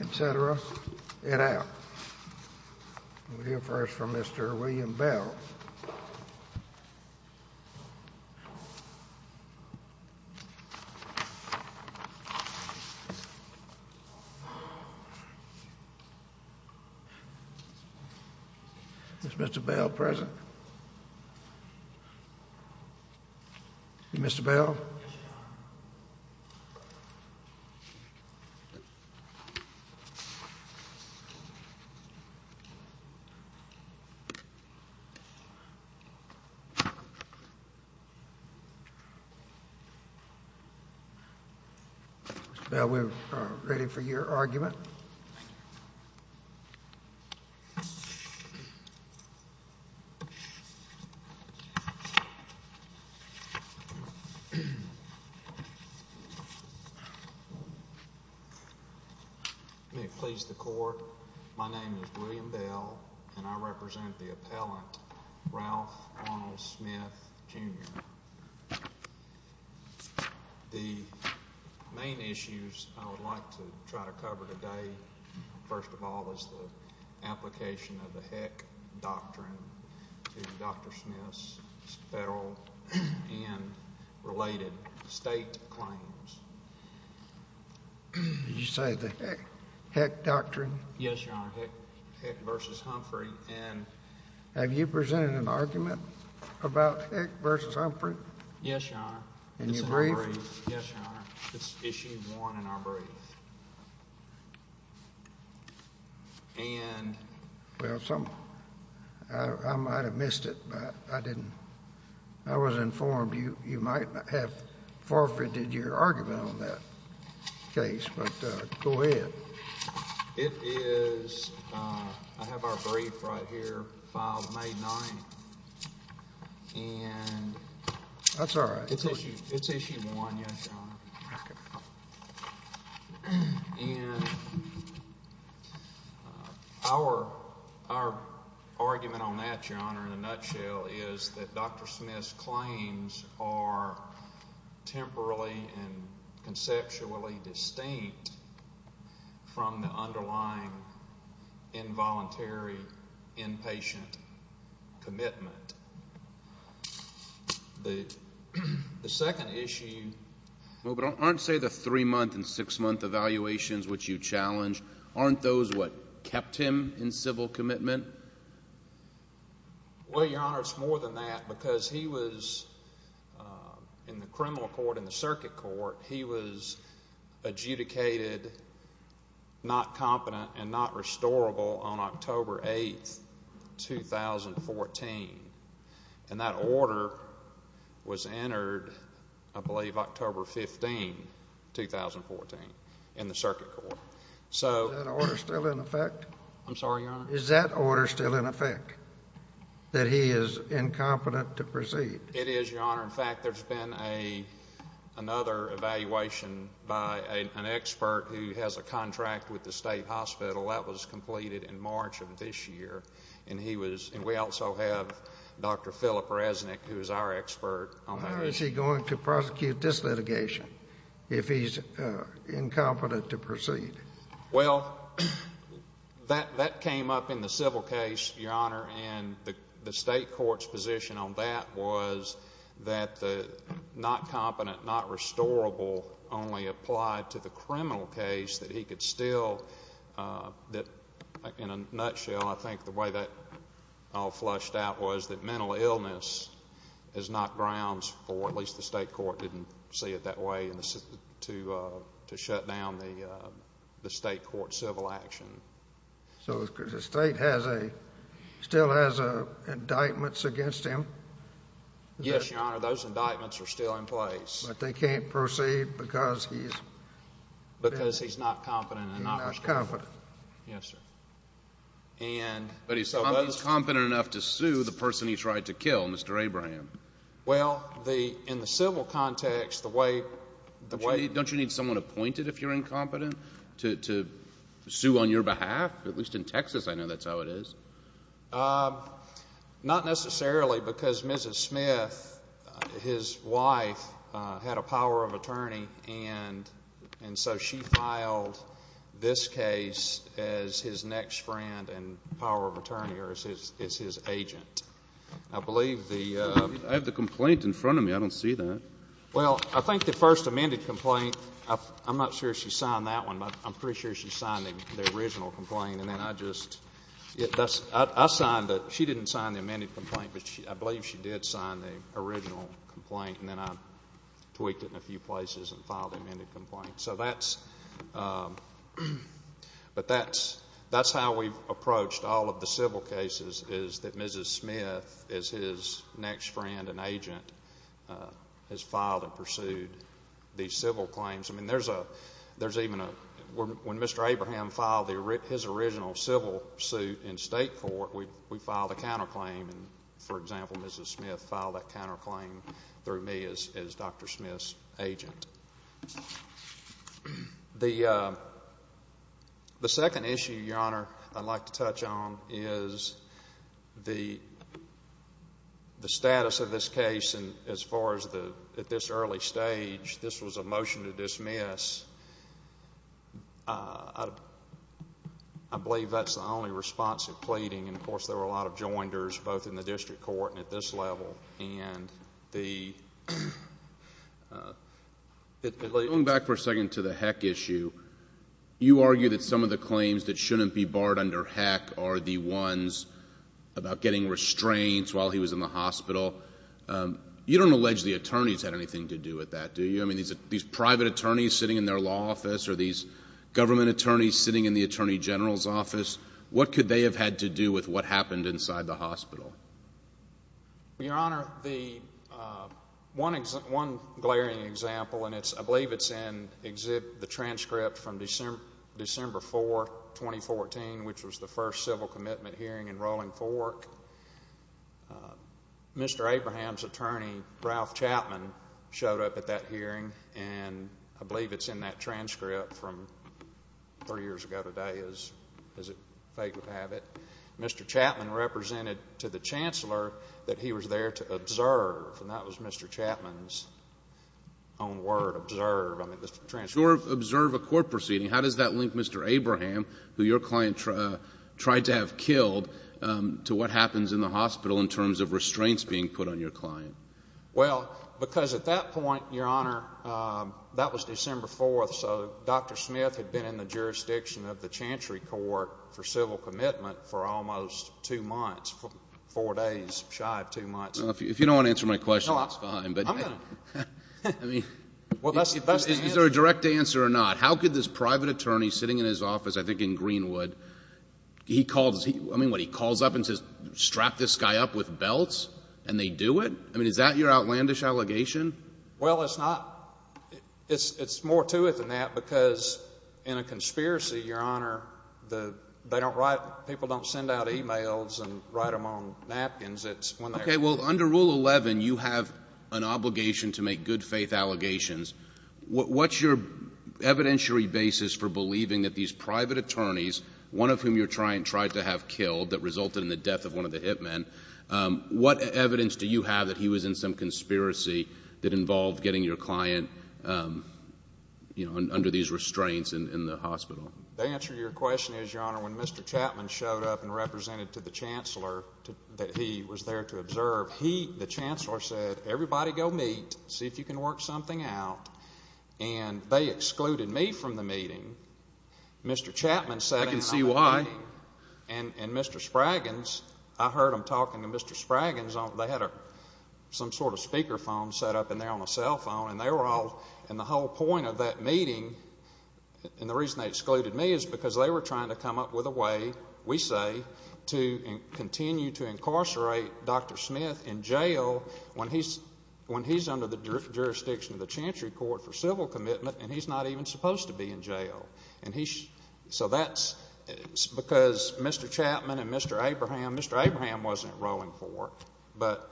etc. and out. We'll hear first from Mr. William Bell. Is Mr. Bell present? Mr. Bell? Mr. Bell, we are ready for your argument. May it please the Court, my name is William Bell, and I represent the appellant Ralph Arnold Smith, Jr. The main issues I would like to try to cover today, first of all, is the application of the Heck Doctrine to Dr. Smith's federal and related state claims. Did you say the Heck Doctrine? Yes, Your Honor. Heck v. Humphrey. Have you presented an argument about Heck v. Humphrey? Yes, Your Honor. In your brief? Yes, Your Honor. It's Issue 1 in our brief. Well, I might have missed it, but I was informed you might have forfeited your argument on that case, but go ahead. I have our brief right here, filed May 9. That's all right. It's Issue 1, yes, Your Honor. And our argument on that, Your Honor, in a nutshell, is that Dr. Smith's claims are temporally and conceptually distinct from the underlying involuntary inpatient commitment. The second issue... Well, but aren't, say, the three-month and six-month evaluations which you challenged, aren't those what kept him in civil commitment? Well, Your Honor, it's more than that, because he was, in the criminal court, in the circuit court, he was adjudicated not competent and not restorable on October 8, 2014. And that order was entered, I believe, October 15, 2014, in the circuit court. Is that order still in effect? I'm sorry, Your Honor? Is that order still in effect, that he is incompetent to proceed? It is, Your Honor. In fact, there's been another evaluation by an expert who has a contract with the state hospital. That was completed in March of this year. And we also have Dr. Philip Resnick, who is our expert on that issue. How is he going to prosecute this litigation if he's incompetent to proceed? Well, that came up in the civil case, Your Honor. And the state court's position on that was that the not competent, not restorable only applied to the criminal case, that he could still... So the state has a... still has indictments against him? Yes, Your Honor. Those indictments are still in place. But they can't proceed because he's... Because he's not competent and not restorable. He's not competent. Yes, sir. And... But he's competent enough to sue the person he tried to kill, Mr. Abraham. Well, in the civil context, the way... Don't you need someone appointed if you're incompetent to sue on your behalf? At least in Texas, I know that's how it is. Not necessarily because Mrs. Smith, his wife, had a power of attorney. And so she filed this case as his next friend and power of attorney, or as his agent. I believe the... I have the complaint in front of me. I don't see that. Well, I think the first amended complaint... I'm not sure she signed that one, but I'm pretty sure she signed the original complaint. And then I just... I signed the... she didn't sign the amended complaint, but I believe she did sign the original complaint. And then I tweaked it in a few places and filed the amended complaint. So that's... But that's how we've approached all of the civil cases, is that Mrs. Smith, as his next friend and agent, has filed and pursued these civil claims. I mean, there's even a... When Mr. Abraham filed his original civil suit in state court, we filed a counterclaim. And, for example, Mrs. Smith filed that counterclaim through me as Dr. Smith's agent. The second issue, Your Honor, I'd like to touch on is the status of this case. And, as far as the... at this early stage, this was a motion to dismiss. I believe that's the only responsive pleading. And, of course, there were a lot of joinders, both in the district court and at this level. And the... Going back for a second to the Heck issue, you argue that some of the claims that shouldn't be barred under Heck are the ones about getting restraints while he was in the hospital. You don't allege the attorneys had anything to do with that, do you? I mean, these private attorneys sitting in their law office, or these government attorneys sitting in the attorney general's office, what could they have had to do with what happened inside the hospital? Your Honor, the... One glaring example, and it's... I believe it's in the transcript from December 4, 2014, which was the first civil commitment hearing in Rolling Fork. Mr. Abraham's attorney, Ralph Chapman, showed up at that hearing, and I believe it's in that transcript from three years ago today, as fate would have it. Mr. Chapman represented to the chancellor that he was there to observe, and that was Mr. Chapman's own word, observe. I mean, the transcript... Observe a court proceeding. How does that link Mr. Abraham, who your client tried to have killed, to what happens in the hospital in terms of restraints being put on your client? Well, because at that point, Your Honor, that was December 4, so Dr. Smith had been in the jurisdiction of the Chantry Court for civil commitment for almost two months, four days, shy of two months. If you don't want to answer my question, that's fine. I'm going to. I mean, is there a direct answer or not? How could this private attorney sitting in his office, I think in Greenwood, he calls... I mean, what, he calls up and says, strap this guy up with belts, and they do it? I mean, is that your outlandish allegation? Well, it's not. It's more to it than that, because in a conspiracy, Your Honor, they don't write... people don't send out e-mails and write them on napkins. It's when they're... Okay. Well, under Rule 11, you have an obligation to make good-faith allegations. What's your evidentiary basis for believing that these private attorneys, one of whom you tried to have killed that resulted in the death of one of the hit men, what evidence do you have that he was in some conspiracy that involved getting your client, you know, under these restraints in the hospital? The answer to your question is, Your Honor, when Mr. Chapman showed up and represented to the Chancellor that he was there to observe, he, the Chancellor, said, everybody go meet, see if you can work something out, and they excluded me from the meeting. Mr. Chapman sat down... I can see why. And Mr. Spraggans, I heard them talking to Mr. Spraggans. They had some sort of speaker phone set up in there on a cell phone, and they were all... and the whole point of that meeting, and the reason they excluded me is because they were trying to come up with a way, we say, to continue to incarcerate Dr. Smith in jail when he's under the jurisdiction of the Chantry Court for civil commitment and he's not even supposed to be in jail. So that's because Mr. Chapman and Mr. Abraham... Mr. Abraham wasn't enrolling for work, but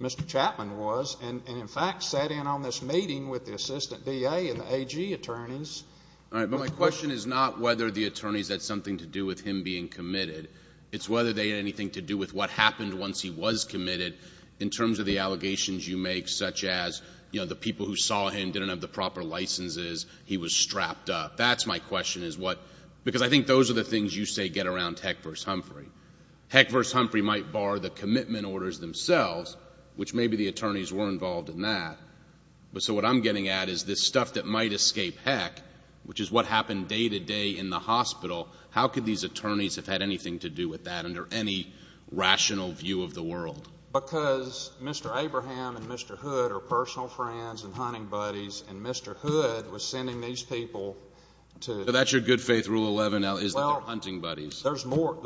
Mr. Chapman was and, in fact, sat in on this meeting with the assistant DA and the AG attorneys. All right, but my question is not whether the attorneys had something to do with him being committed. It's whether they had anything to do with what happened once he was committed in terms of the allegations you make, such as, you know, the people who saw him didn't have the proper licenses, he was strapped up. That's my question is what... because I think those are the things you say get around Heck v. Humphrey. Heck v. Humphrey might bar the commitment orders themselves, which maybe the attorneys were involved in that, but so what I'm getting at is this stuff that might escape Heck, which is what happened day to day in the hospital, how could these attorneys have had anything to do with that under any rational view of the world? Because Mr. Abraham and Mr. Hood are personal friends and hunting buddies, and Mr. Hood was sending these people to... So that's your good faith Rule 11 is that they're hunting buddies. There's more to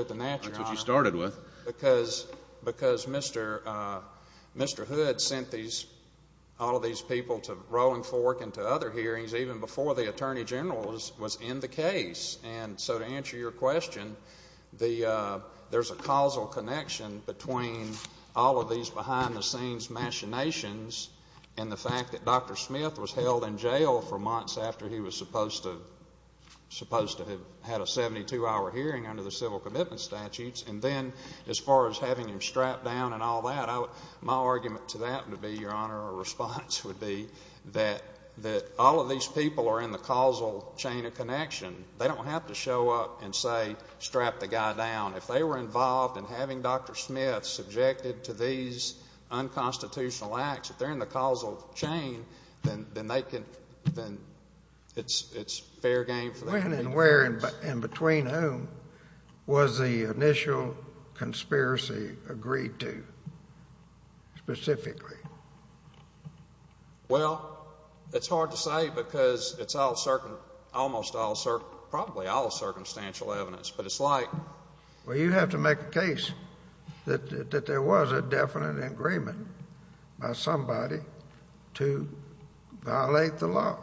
it than that, Your Honor. That's what you started with. Because Mr. Hood sent all of these people to Rolling Fork and to other hearings even before the attorney general was in the case. And so to answer your question, there's a causal connection between all of these behind-the-scenes machinations and the fact that Dr. Smith was held in jail for months after he was supposed to have had a 72-hour hearing under the civil commitment statutes. And then as far as having him strapped down and all that, my argument to that would be, Your Honor, or response would be, that all of these people are in the causal chain of connection. They don't have to show up and say, strap the guy down. If they were involved in having Dr. Smith subjected to these unconstitutional acts, if they're in the causal chain, then they can... then it's fair game for them. When and where and between whom was the initial conspiracy agreed to specifically? Well, it's hard to say because it's almost all, probably all, circumstantial evidence. But it's like... Well, you have to make a case that there was a definite agreement by somebody to violate the law.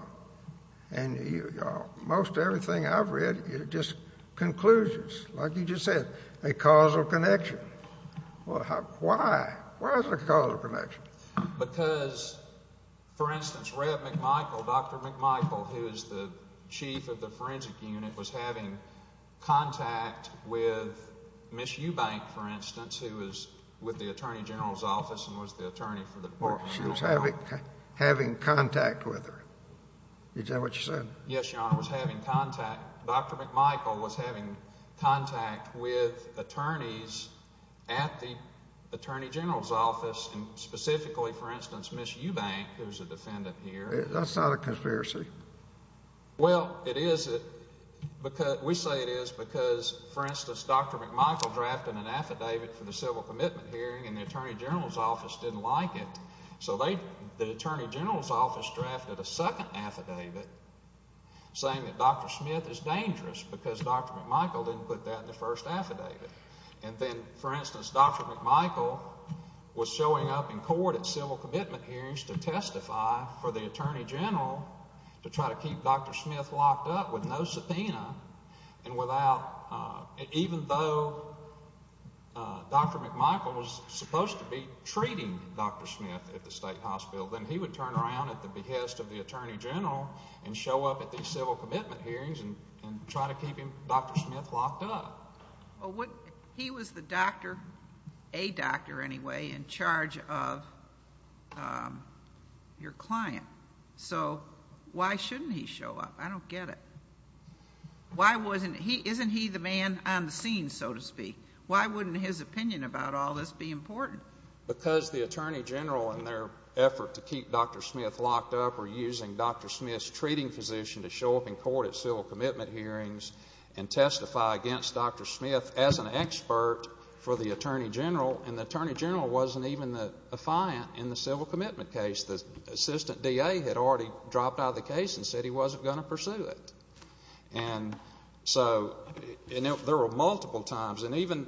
And most everything I've read, it just concludes, like you just said, a causal connection. Why? Why is it a causal connection? Because, for instance, Rev. McMichael, Dr. McMichael, who is the chief of the forensic unit, was having contact with Ms. Eubank, for instance, who was with the Attorney General's office She was having contact with her. Is that what you said? Yes, Your Honor, was having contact... Dr. McMichael was having contact with attorneys at the Attorney General's office, and specifically, for instance, Ms. Eubank, who is a defendant here... That's not a conspiracy. Well, it is. We say it is because, for instance, Dr. McMichael drafted an affidavit for the civil commitment hearing and the Attorney General's office didn't like it. So the Attorney General's office drafted a second affidavit saying that Dr. Smith is dangerous because Dr. McMichael didn't put that in the first affidavit. And then, for instance, Dr. McMichael was showing up in court at civil commitment hearings to testify for the Attorney General to try to keep Dr. Smith locked up with no subpoena and even though Dr. McMichael was supposed to be treating Dr. Smith at the state hospital, then he would turn around at the behest of the Attorney General and show up at these civil commitment hearings and try to keep Dr. Smith locked up. He was the doctor, a doctor anyway, in charge of your client. So why shouldn't he show up? I don't get it. Isn't he the man on the scene, so to speak? Why wouldn't his opinion about all this be important? Because the Attorney General and their effort to keep Dr. Smith locked up were using Dr. Smith's treating physician to show up in court at civil commitment hearings and testify against Dr. Smith as an expert for the Attorney General and the Attorney General wasn't even the defiant in the civil commitment case. The assistant DA had already dropped out of the case and said he wasn't going to pursue it. And so there were multiple times, and even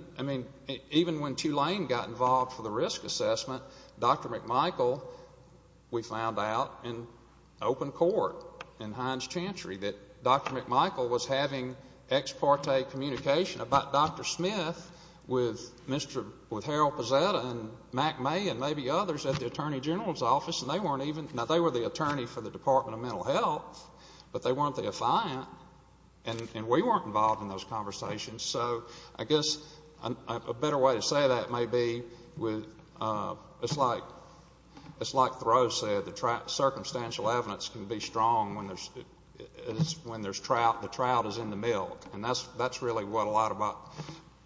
when Tulane got involved for the risk assessment, Dr. McMichael, we found out in open court in Heinz Chantry, that Dr. McMichael was having ex parte communication about Dr. Smith with Harold Pozzetta and Mack May and maybe others at the Attorney General's office and they weren't even, now they were the attorney for the Department of Mental Health, but they weren't the defiant and we weren't involved in those conversations. So I guess a better way to say that may be it's like Thoreau said, the circumstantial evidence can be strong when there's trout, the trout is in the milk. And that's really what a lot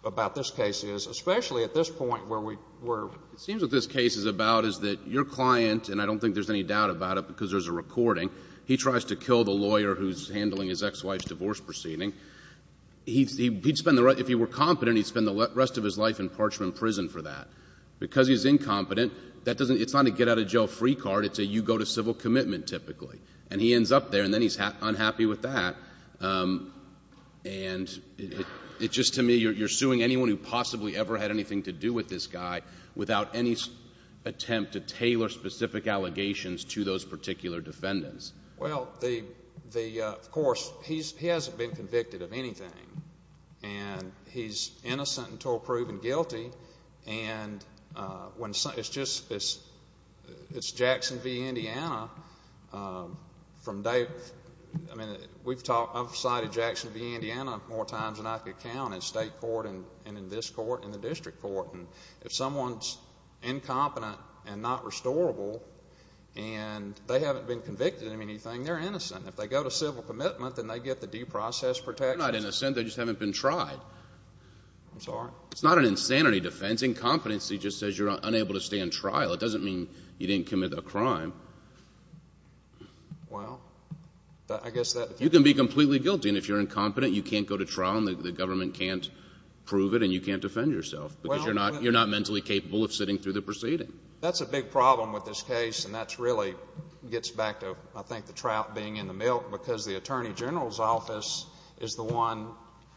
about this case is, especially at this point where we're... I don't think there's any doubt about it because there's a recording. He tries to kill the lawyer who's handling his ex-wife's divorce proceeding. If he were competent, he'd spend the rest of his life in parchment prison for that. Because he's incompetent, it's not a get-out-of-jail-free card, it's a you-go-to-civil-commitment typically. And he ends up there and then he's unhappy with that. And it's just to me, you're suing anyone who possibly ever had anything to do with this guy without any attempt to tailor specific allegations to those particular defendants. Well, of course, he hasn't been convicted of anything. And he's innocent until proven guilty. And it's Jackson v. Indiana. I've cited Jackson v. Indiana more times than I could count in state court and in this court and the district court. And if someone's incompetent and not restorable and they haven't been convicted of anything, they're innocent. If they go to civil commitment, then they get the deprocess protection. They're not innocent. They just haven't been tried. I'm sorry? It's not an insanity defense. Incompetency just says you're unable to stand trial. It doesn't mean you didn't commit a crime. Well, I guess that... You can be completely guilty. And if you're incompetent, you can't go to trial and the government can't prove it and you can't defend yourself. Because you're not mentally capable of sitting through the proceeding. That's a big problem with this case, and that really gets back to, I think, the trout being in the milk, because the attorney general's office is the one,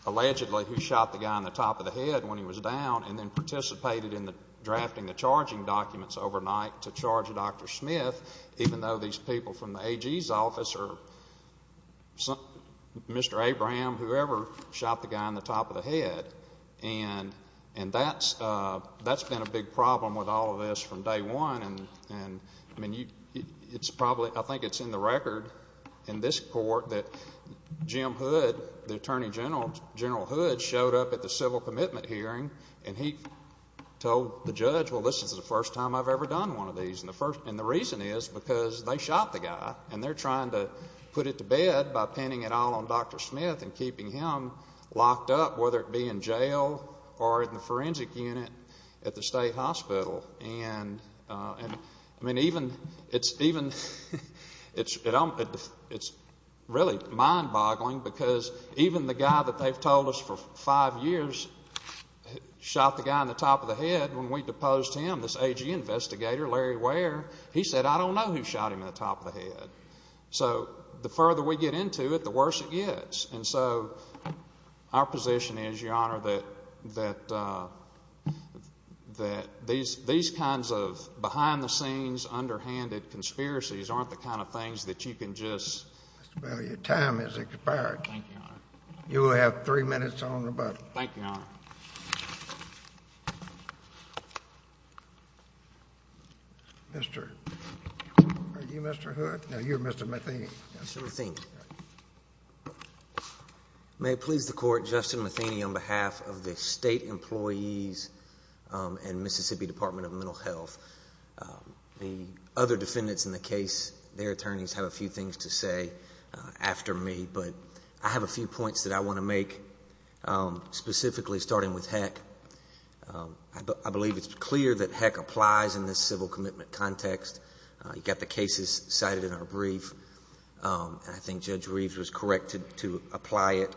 allegedly, who shot the guy in the top of the head when he was down and then participated in drafting the charging documents overnight to charge Dr. Smith, even though these people from the AG's office or Mr. Abraham, whoever, shot the guy in the top of the head. And that's been a big problem with all of this from day one. And, I mean, it's probably... I think it's in the record in this court that Jim Hood, the attorney general, General Hood, showed up at the civil commitment hearing and he told the judge, well, this is the first time I've ever done one of these. And the reason is because they shot the guy, and they're trying to put it to bed by pinning it all on Dr. Smith and keeping him locked up, whether it be in jail or in the forensic unit at the state hospital. And, I mean, it's really mind-boggling, because even the guy that they've told us for five years shot the guy in the top of the head when we deposed him, this AG investigator, Larry Ware. He said, I don't know who shot him in the top of the head. So the further we get into it, the worse it gets. And so our position is, Your Honor, that these kinds of behind-the-scenes, underhanded conspiracies aren't the kind of things that you can just... Mr. Bell, your time has expired. Thank you, Your Honor. You will have three minutes on rebuttal. Thank you, Your Honor. Mr.... are you Mr. Hood? No, you're Mr. Matheny. Mr. Matheny. May it please the Court, Justin Matheny on behalf of the State Employees and Mississippi Department of Mental Health. The other defendants in the case, their attorneys have a few things to say after me, but I have a few points that I want to make, specifically starting with Heck. I believe it's clear that Heck applies in this civil commitment context. You've got the cases cited in our brief. I think Judge Reeves was correct to apply it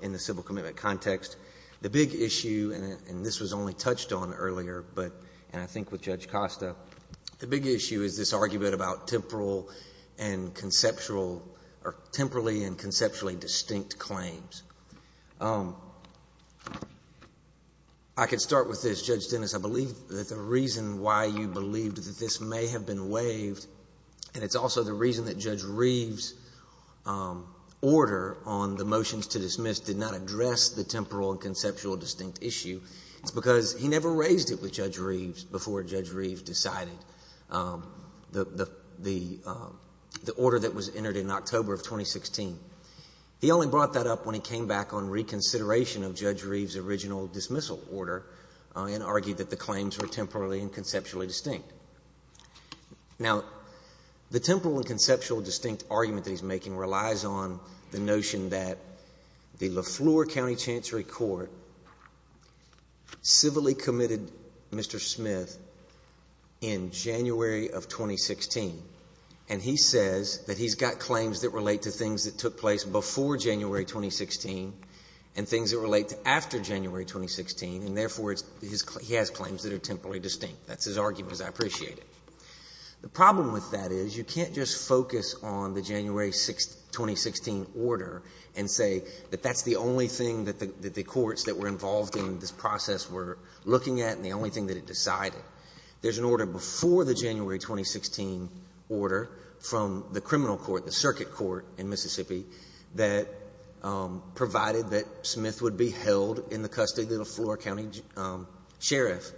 in the civil commitment context. The big issue, and this was only touched on earlier, and I think with Judge Costa, the big issue is this argument about temporal and conceptual, or temporally and conceptually distinct claims. I could start with this, Judge Dennis. I believe that the reason why you believed that this may have been waived, and it's also the reason that Judge Reeves' order on the motions to dismiss did not address the temporal and conceptual distinct issue, is because he never raised it with Judge Reeves before Judge Reeves decided the order that was entered in October of 2016. He only brought that up when he came back on reconsideration of Judge Reeves' original dismissal order and argued that the claims were temporally and conceptually distinct. Now, the temporal and conceptual distinct argument that he's making relies on the notion that the LeFleur County Chancery Court civilly committed Mr. Smith in January of 2016, and he says that he's got claims that relate to things that took place before January 2016 and things that relate to after January 2016, and therefore he has claims that are temporally distinct. That's his argument. I appreciate it. The problem with that is you can't just focus on the January 2016 order and say that that's the only thing that the courts that were involved in this process were looking at and the only thing that it decided. There's an order before the January 2016 order from the criminal court, the circuit court in Mississippi, that provided that Smith would be held in the custody of the LeFleur County Sheriff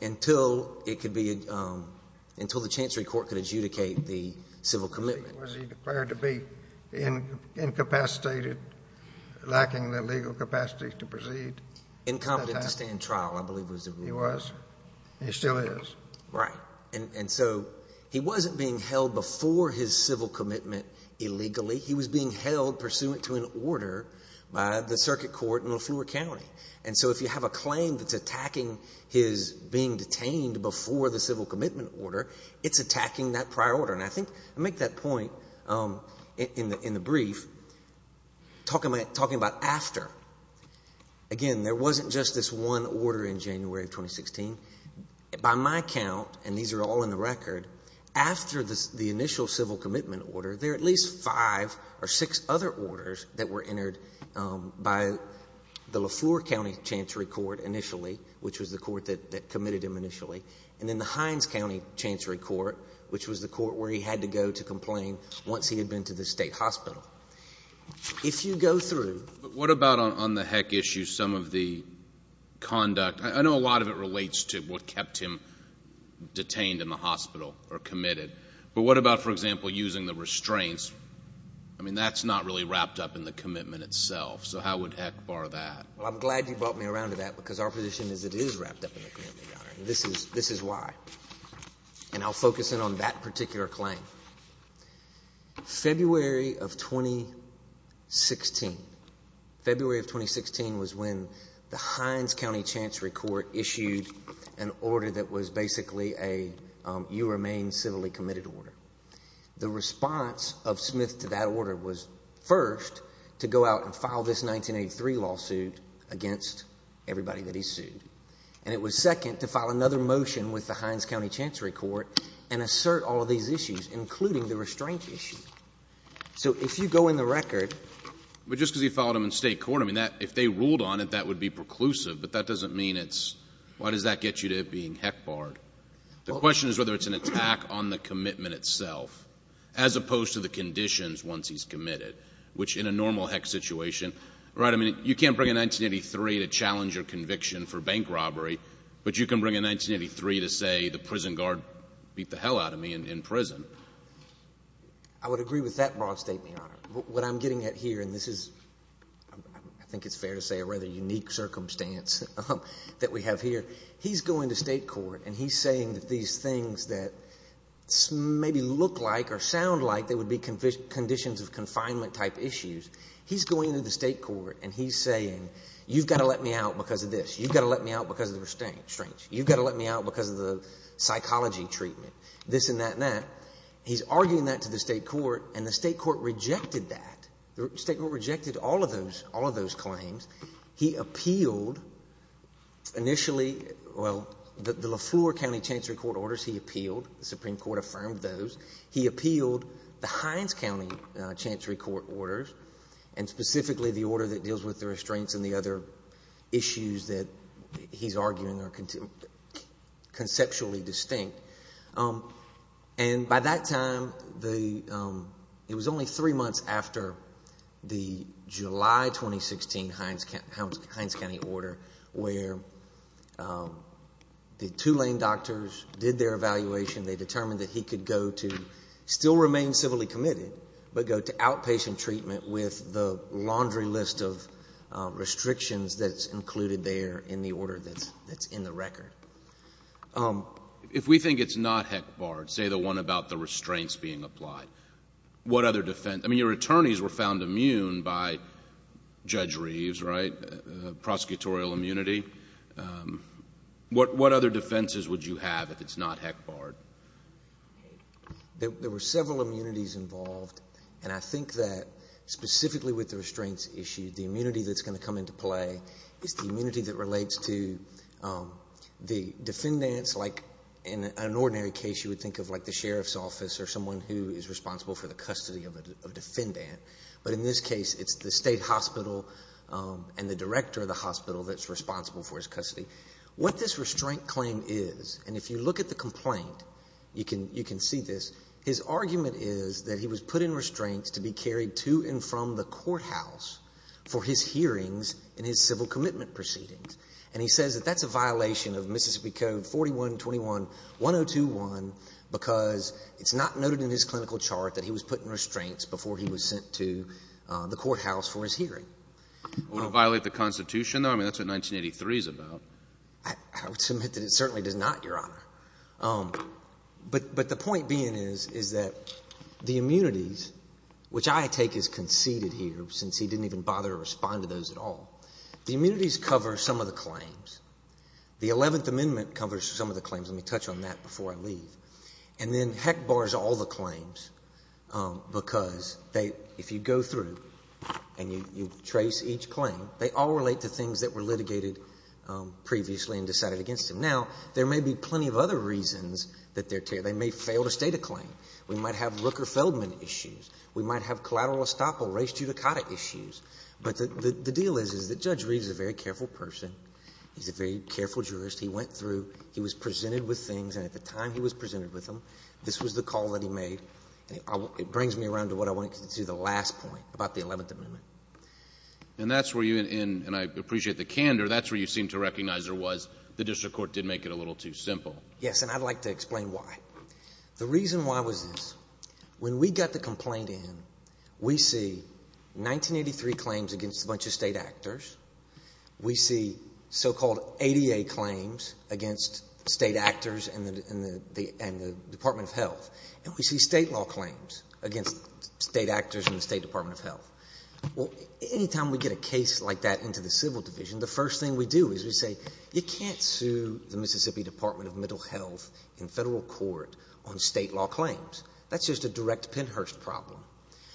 until it could be – until the Chancery Court could adjudicate the civil commitment. Was he declared to be incapacitated, lacking the legal capacity to proceed? Incompetent to stand trial, I believe was the rule. He was. He still is. Right. And so he wasn't being held before his civil commitment illegally. He was being held pursuant to an order by the circuit court in LeFleur County. And so if you have a claim that's attacking his being detained before the civil commitment order, it's attacking that prior order. And I think I make that point in the brief, talking about after. Again, there wasn't just this one order in January of 2016. By my count, and these are all in the record, after the initial civil commitment order, there are at least five or six other orders that were entered by the LeFleur County Chancery Court initially, which was the court that committed him initially, and then the Hines County Chancery Court, which was the court where he had to go to complain once he had been to the state hospital. If you go through. But what about on the heck issue, some of the conduct? I know a lot of it relates to what kept him detained in the hospital or committed. But what about, for example, using the restraints? I mean, that's not really wrapped up in the commitment itself. So how would heck bar that? Well, I'm glad you brought me around to that because our position is it is wrapped up in the commitment, Your Honor. This is why. And I'll focus in on that particular claim. February of 2016. February of 2016 was when the Hines County Chancery Court issued an order that was basically a you remain civilly committed order. The response of Smith to that order was, first, to go out and file this 1983 lawsuit against everybody that he sued. And it was, second, to file another motion with the Hines County Chancery Court and assert all of these issues, including the restraint issue. So if you go in the record. But just because he filed them in State court, I mean, if they ruled on it, that would be preclusive. But that doesn't mean it's why does that get you to being heck barred? The question is whether it's an attack on the commitment itself as opposed to the conditions once he's committed, which in a normal heck situation. Right. I mean, you can't bring a 1983 to challenge your conviction for bank robbery. But you can bring a 1983 to say the prison guard beat the hell out of me in prison. I would agree with that broad statement, Your Honor. What I'm getting at here, and this is, I think it's fair to say, a rather unique circumstance that we have here. He's going to State court and he's saying that these things that maybe look like or sound like they would be conditions of confinement type issues. He's going to the State court and he's saying, you've got to let me out because of this. You've got to let me out because of the restraints. You've got to let me out because of the psychology treatment. This and that and that. He's arguing that to the State court and the State court rejected that. The State court rejected all of those claims. He appealed initially, well, the Lafleur County Chancery Court orders he appealed. The Supreme Court affirmed those. He appealed the Hines County Chancery Court orders and specifically the order that deals with the restraints and the other issues that he's arguing are conceptually distinct. And by that time, it was only three months after the July 2016 Hines County order where the Tulane doctors did their evaluation. They determined that he could go to still remain civilly committed, but go to outpatient treatment with the laundry list of restrictions that's included there in the order that's in the record. If we think it's not HECBARD, say the one about the restraints being applied, what other defense? I mean, your attorneys were found immune by Judge Reeves, right, prosecutorial immunity. What other defenses would you have if it's not HECBARD? There were several immunities involved. And I think that specifically with the restraints issue, the immunity that's going to come into play is the immunity that relates to the defendants. Like in an ordinary case, you would think of like the sheriff's office or someone who is responsible for the custody of a defendant. But in this case, it's the state hospital and the director of the hospital that's responsible for his custody. What this restraint claim is, and if you look at the complaint, you can see this, his argument is that he was put in restraints to be carried to and from the courthouse for his hearings and his civil commitment proceedings. And he says that that's a violation of Mississippi Code 4121-1021 because it's not noted in his clinical chart that he was put in restraints before he was sent to the courthouse for his hearing. Would it violate the Constitution, though? I mean, that's what 1983 is about. I would submit that it certainly does not, Your Honor. But the point being is, is that the immunities, which I take as conceded here since he didn't even bother to respond to those at all, the immunities cover some of the claims. The Eleventh Amendment covers some of the claims. Let me touch on that before I leave. And then Heck bars all the claims, because they, if you go through and you trace each claim, they all relate to things that were litigated previously and decided against them. Now, there may be plenty of other reasons that they're, they may fail to state a claim. We might have Rooker-Feldman issues. We might have collateral estoppel, race judicata issues. But the deal is, is that Judge Reeves is a very careful person. He's a very careful jurist. He went through, he was presented with things, and at the time he was presented with them, this was the call that he made. It brings me around to what I wanted to do, the last point about the Eleventh Amendment. And that's where you in, and I appreciate the candor, that's where you seem to recognize there was, the district court did make it a little too simple. Yes, and I'd like to explain why. The reason why was this. When we got the complaint in, we see 1983 claims against a bunch of State actors. We see so-called ADA claims against State actors and the Department of Health. And we see State law claims against State actors and the State Department of Health. Well, any time we get a case like that into the Civil Division, the first thing we do is we say, you can't sue the Mississippi Department of Mental Health in federal court on State law claims. That's just a direct Pennhurst problem.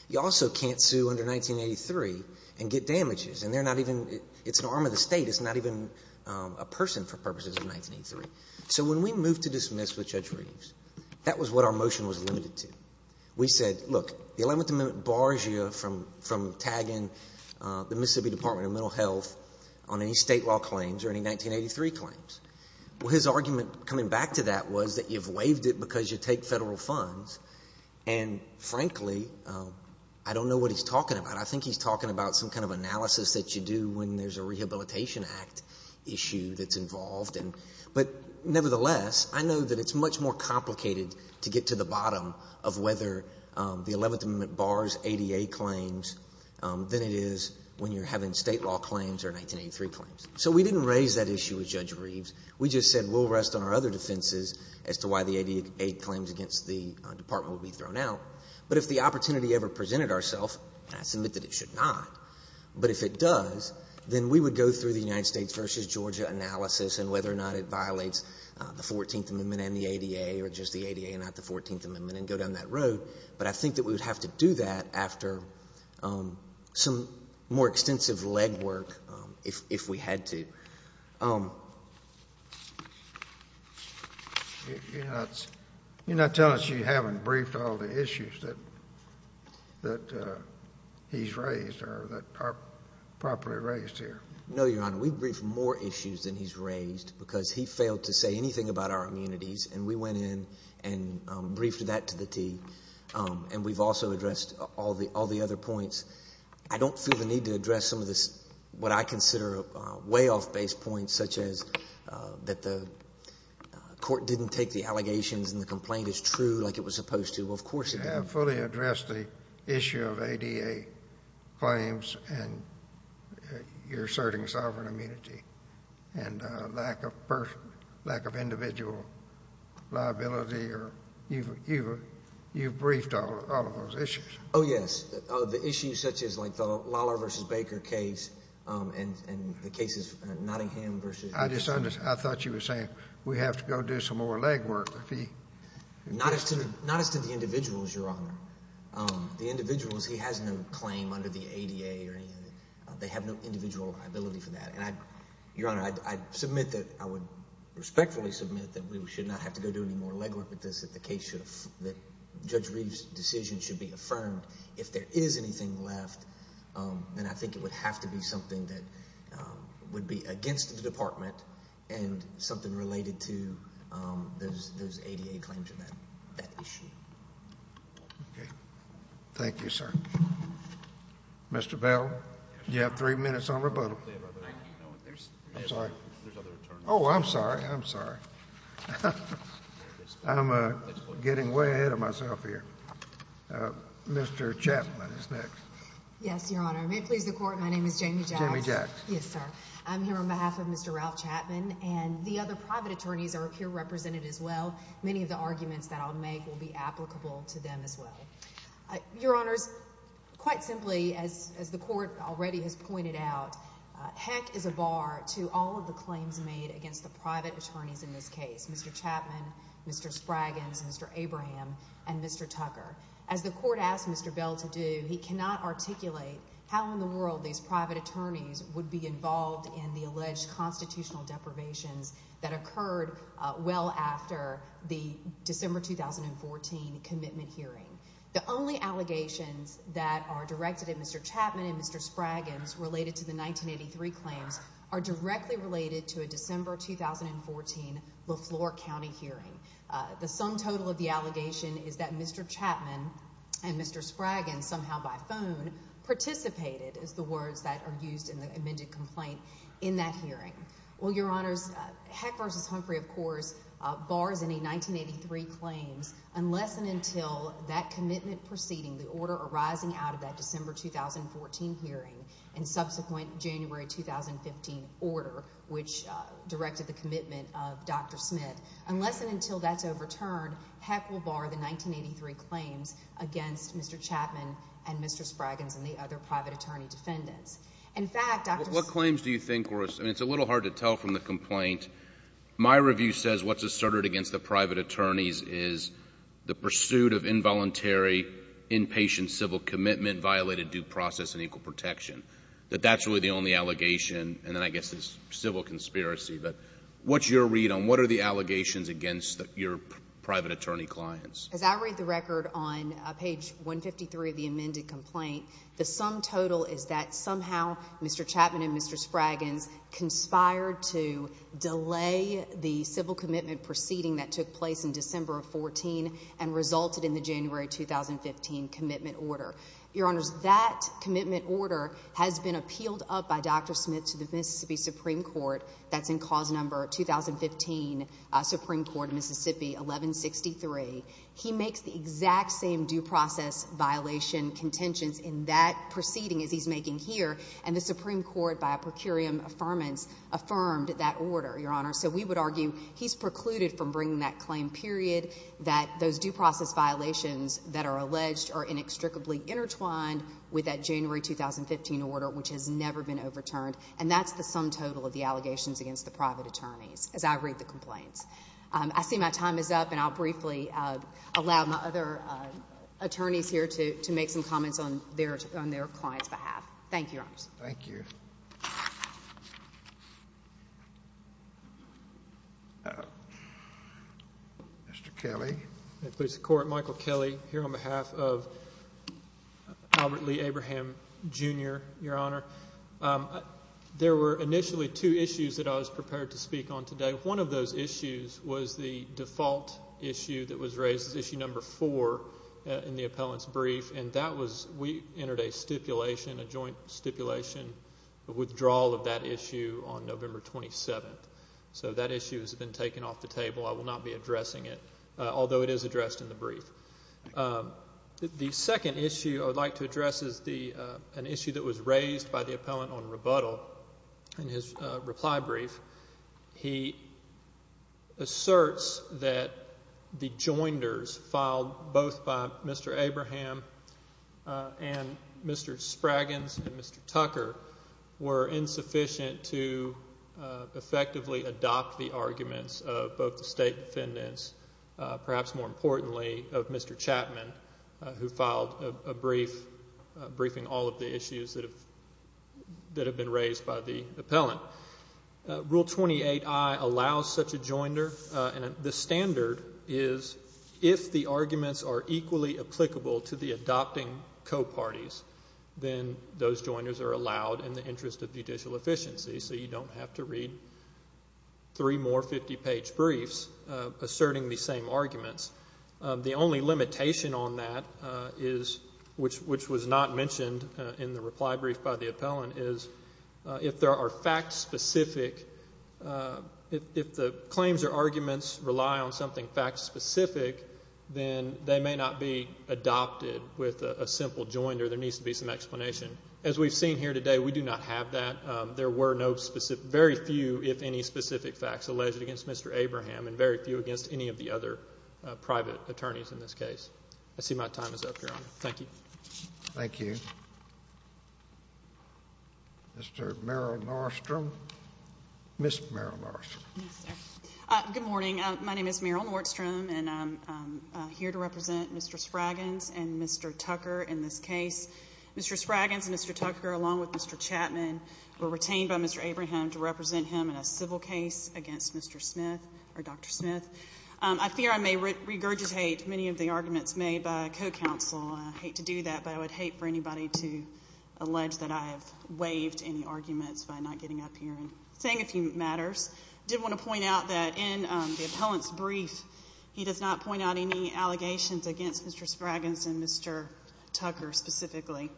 You also can't sue under 1983 and get damages. And they're not even, it's an arm of the State. It's not even a person for purposes of 1983. So when we moved to dismiss with Judge Reeves, that was what our motion was limited to. We said, look, the Eleventh Amendment bars you from tagging the Mississippi Department of Mental Health on any State law claims or any 1983 claims. Well, his argument coming back to that was that you've waived it because you take federal funds. And frankly, I don't know what he's talking about. I think he's talking about some kind of analysis that you do when there's a Rehabilitation Act issue that's involved. But nevertheless, I know that it's much more complicated to get to the bottom of whether the Eleventh Amendment bars ADA claims than it is when you're having State law claims or 1983 claims. So we didn't raise that issue with Judge Reeves. We just said we'll rest on our other defenses as to why the ADA claims against the Department will be thrown out. But if the opportunity ever presented ourself, and I submit that it should not, but if it does, then we would go through the United States v. Georgia analysis and whether or not it violates the Fourteenth Amendment and the ADA or just the ADA and not the Fourteenth Amendment and go down that road. But I think that we would have to do that after some more extensive legwork if we had to. You're not telling us you haven't briefed all the issues that he's raised or that are properly raised here. No, Your Honor. We've briefed more issues than he's raised because he failed to say anything about our immunities, and we went in and briefed that to the T. And we've also addressed all the other points. I don't feel the need to address some of this, what I consider way off-base points such as that the court didn't take the allegations and the complaint as true like it was supposed to. Well, of course it didn't. You have fully addressed the issue of ADA claims and you're asserting sovereign immunity and lack of individual liability. You've briefed all of those issues. Oh, yes. The issues such as like the Lollar v. Baker case and the cases of Nottingham v. I thought you were saying we have to go do some more legwork. Not as to the individuals, Your Honor. The individuals, he has no claim under the ADA or anything. They have no individual liability for that. And, Your Honor, I would respectfully submit that we should not have to go do any more legwork with this in the case that Judge Reeves' decision should be affirmed. If there is anything left, then I think it would have to be something that would be against the Department and something related to those ADA claims and that issue. Okay. Thank you, sir. Mr. Bell, you have three minutes on rebuttal. I'm sorry. There's other attorneys. Oh, I'm sorry. I'm sorry. I'm getting way ahead of myself here. Mr. Chapman is next. Yes, Your Honor. May it please the Court, my name is Jamie Jax. Jamie Jax. Yes, sir. I'm here on behalf of Mr. Ralph Chapman and the other private attorneys are here represented as well. Many of the arguments that I'll make will be applicable to them as well. Your Honors, quite simply, as the Court already has pointed out, heck is a bar to all of the claims made against the private attorneys in this case, Mr. Chapman, Mr. Spraggans, Mr. Abraham, and Mr. Tucker. As the Court asked Mr. Bell to do, he cannot articulate how in the world these private attorneys would be involved in the alleged constitutional deprivations that occurred well after the December 2014 commitment hearing. The only allegations that are directed at Mr. Chapman and Mr. Spraggans related to the 1983 claims are directly related to a December 2014 LeFlore County hearing. The sum total of the allegation is that Mr. Chapman and Mr. Spraggans, somehow by phone, participated is the words that are used in the amended complaint in that hearing. Well, Your Honors, Heck v. Humphrey, of course, bars any 1983 claims unless and until that commitment proceeding, the order arising out of that December 2014 hearing and subsequent January 2015 order, which directed the commitment of Dr. Smith. Unless and until that's overturned, Heck will bar the 1983 claims against Mr. Chapman and Mr. Spraggans and the other private attorney defendants. In fact, Dr. Smith What claims do you think were asserted? I mean, it's a little hard to tell from the complaint. My review says what's asserted against the private attorneys is the pursuit of involuntary, inpatient civil commitment violated due process and equal protection, that that's really the only allegation, and then I guess it's civil conspiracy. But what's your read on what are the allegations against your private attorney clients? As I read the record on page 153 of the amended complaint, the sum total is that somehow Mr. Chapman and Mr. Spraggans conspired to delay the civil commitment proceeding that took place in December of 2014 and resulted in the January 2015 commitment order. Your Honors, that commitment order has been appealed up by Dr. Smith to the Mississippi Supreme Court. That's in cause number 2015, Supreme Court, Mississippi 1163. He makes the exact same due process violation contentions in that proceeding as he's making here, and the Supreme Court, by a procurium affirmance, affirmed that order, Your Honors. So we would argue he's precluded from bringing that claim, period, that those due process violations that are alleged are inextricably intertwined with that January 2015 order, which has never been overturned, and that's the sum total of the allegations against the private attorneys, as I read the complaints. I see my time is up, and I'll briefly allow my other attorneys here to make some comments on their client's behalf. Thank you, Your Honors. Thank you. Mr. Kelly. May it please the Court. Michael Kelly here on behalf of Albert Lee Abraham, Jr., Your Honor. There were initially two issues that I was prepared to speak on today. One of those issues was the default issue that was raised as issue number four in the appellant's brief, and that was we entered a stipulation, a joint stipulation, a withdrawal of that issue on November 27th. So that issue has been taken off the table. I will not be addressing it, although it is addressed in the brief. The second issue I would like to address is an issue that was raised by the appellant on rebuttal in his reply brief. He asserts that the joinders filed both by Mr. Abraham and Mr. Spragins and Mr. Tucker were insufficient to effectively adopt the arguments of both the state defendants, perhaps more importantly of Mr. Chapman, who filed a brief briefing all of the issues that have been raised by the appellant. Rule 28I allows such a joinder, and the standard is if the arguments are equally applicable to the adopting co-parties, then those joinders are allowed in the interest of judicial efficiency, so you don't have to read three more 50-page briefs asserting the same arguments. The only limitation on that is, which was not mentioned in the reply brief by the appellant, is if there are fact-specific, if the claims or arguments rely on something fact-specific, then they may not be adopted with a simple joinder. There needs to be some explanation. As we've seen here today, we do not have that. There were no specific, very few if any specific facts alleged against Mr. Abraham and very few against any of the other private attorneys in this case. I see my time is up, Your Honor. Thank you. Thank you. Mr. Merrill Nordstrom. Ms. Merrill Nordstrom. Good morning. My name is Merrill Nordstrom, and I'm here to represent Mr. Spragans and Mr. Tucker in this case. Mr. Spragans and Mr. Tucker, along with Mr. Chapman, were retained by Mr. Abraham to represent him in a civil case against Mr. Smith or Dr. Smith. I fear I may regurgitate many of the arguments made by a co-counsel. I hate to do that, but I would hate for anybody to allege that I have waived any arguments by not getting up here and saying a few matters. I did want to point out that in the appellant's brief, he does not point out any allegations against Mr. Spragans and Mr. Tucker specifically.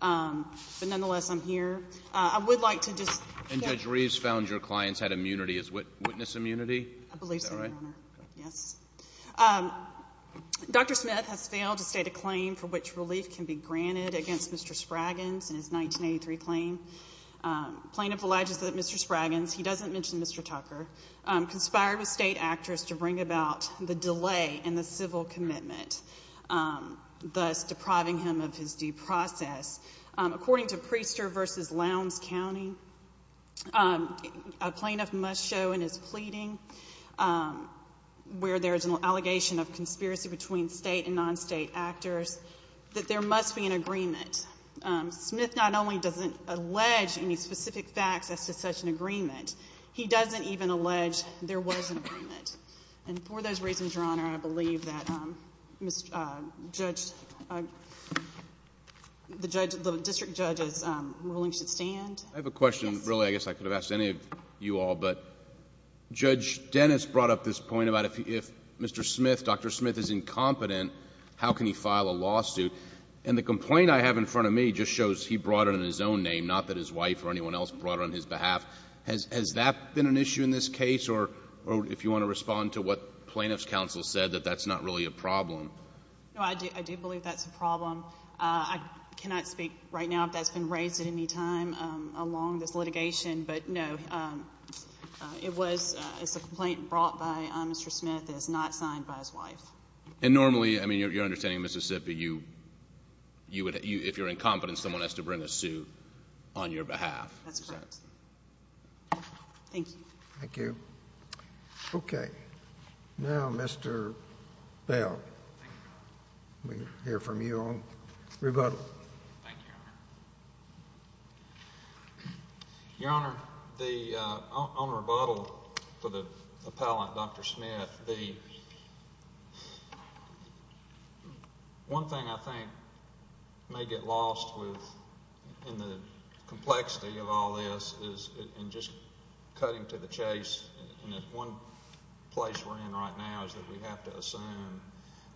But nonetheless, I'm here. I would like to just share. And Judge Reeves found your clients had immunity as witness immunity? I believe so, Your Honor. Is that right? Yes. Dr. Smith has failed to state a claim for which relief can be granted against Mr. Spragans in his 1983 claim. Plaintiff alleges that Mr. Spragans, he doesn't mention Mr. Tucker, conspired with state actors to bring about the delay in the civil commitment, thus depriving him of his due process. According to Priester v. Lowndes County, a plaintiff must show in his pleading, where there is an allegation of conspiracy between state and non-state actors, that there must be an agreement. Smith not only doesn't allege any specific facts as to such an agreement, he doesn't even allege there was an agreement. And for those reasons, Your Honor, I believe that the district judge's ruling should stand. I have a question. Really, I guess I could have asked any of you all. But Judge Dennis brought up this point about if Dr. Smith is incompetent, how can he file a lawsuit? And the complaint I have in front of me just shows he brought it in his own name, not that his wife or anyone else brought it on his behalf. Has that been an issue in this case? Or if you want to respond to what plaintiff's counsel said, that that's not really a problem. No, I do believe that's a problem. I cannot speak right now if that's been raised at any time along this litigation. But, no, it was a complaint brought by Mr. Smith and it's not signed by his wife. And normally, I mean, you're understanding in Mississippi, if you're incompetent, someone has to bring a suit on your behalf. That's correct. Thank you. Thank you. Okay. Now, Mr. Bell, we'll hear from you on rebuttal. Thank you, Your Honor. Your Honor, on rebuttal for the appellant, Dr. Smith, the one thing I think may get lost in the complexity of all this is in just cutting to the chase. And one place we're in right now is that we have to assume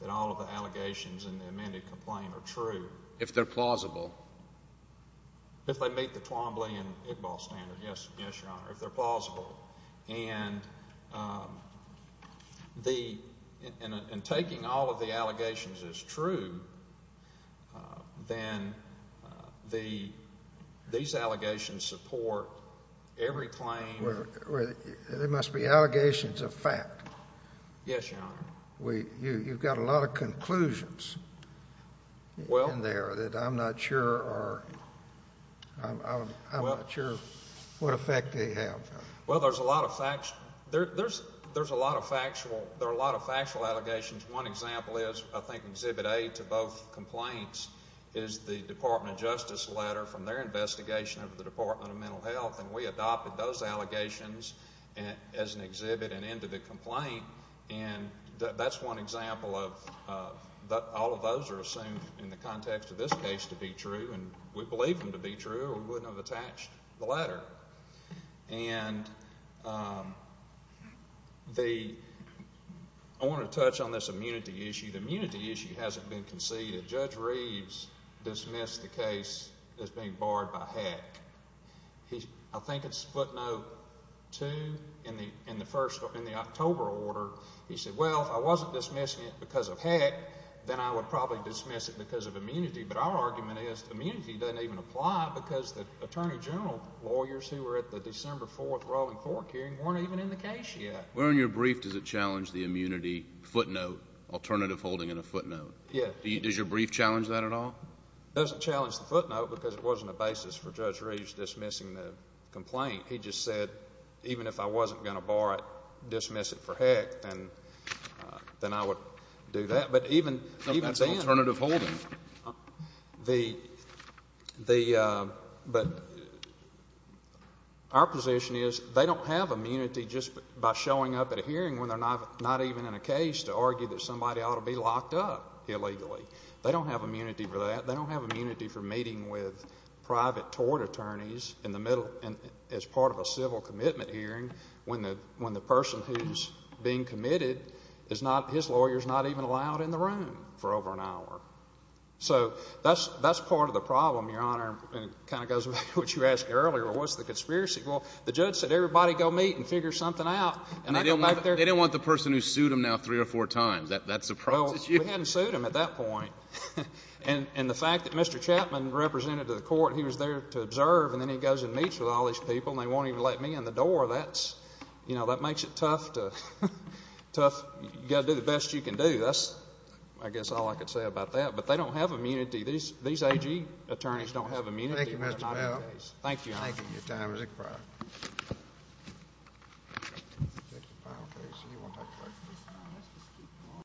that all of the allegations in the amended complaint are true. If they're plausible. If they meet the Twombly and Iqbal standard, yes, Your Honor, if they're plausible. And taking all of the allegations as true, then these allegations support every claim. There must be allegations of fact. Yes, Your Honor. You've got a lot of conclusions in there that I'm not sure are, I'm not sure what effect they have. Well, there's a lot of factual allegations. One example is I think Exhibit A to both complaints is the Department of Justice letter from their investigation of the Department of Mental Health. And we adopted those allegations as an exhibit and end to the complaint. And that's one example of all of those are assumed in the context of this case to be true. And we believe them to be true or we wouldn't have attached the letter. And the, I want to touch on this immunity issue. The immunity issue hasn't been conceded. Judge Reeves dismissed the case as being barred by HECC. I think it's footnote two in the October order. He said, well, if I wasn't dismissing it because of HECC, then I would probably dismiss it because of immunity. But our argument is immunity doesn't even apply because the Attorney General lawyers who were at the December 4th rolling court hearing weren't even in the case yet. Where in your brief does it challenge the immunity footnote, alternative holding in a footnote? Yeah. Does your brief challenge that at all? It doesn't challenge the footnote because it wasn't a basis for Judge Reeves dismissing the complaint. He just said, even if I wasn't going to bar it, dismiss it for HECC, then I would do that. But even then. That's alternative holding. Our position is they don't have immunity just by showing up at a hearing when they're not even in a case to argue that somebody ought to be locked up illegally. They don't have immunity for that. His lawyer is not even allowed in the room for over an hour. So that's part of the problem, Your Honor. It kind of goes back to what you asked earlier. What's the conspiracy? Well, the judge said everybody go meet and figure something out. And they didn't want the person who sued them now three or four times. That surprises you. Well, we hadn't sued them at that point. And the fact that Mr. Chapman represented to the court and he was there to observe and then he goes and meets with all these people and they won't even let me in the door, that's – You've got to do the best you can do. That's, I guess, all I can say about that. But they don't have immunity. These AG attorneys don't have immunity. Thank you, Mr. Powell. Thank you, Your Honor. Thank you. Your time is expired.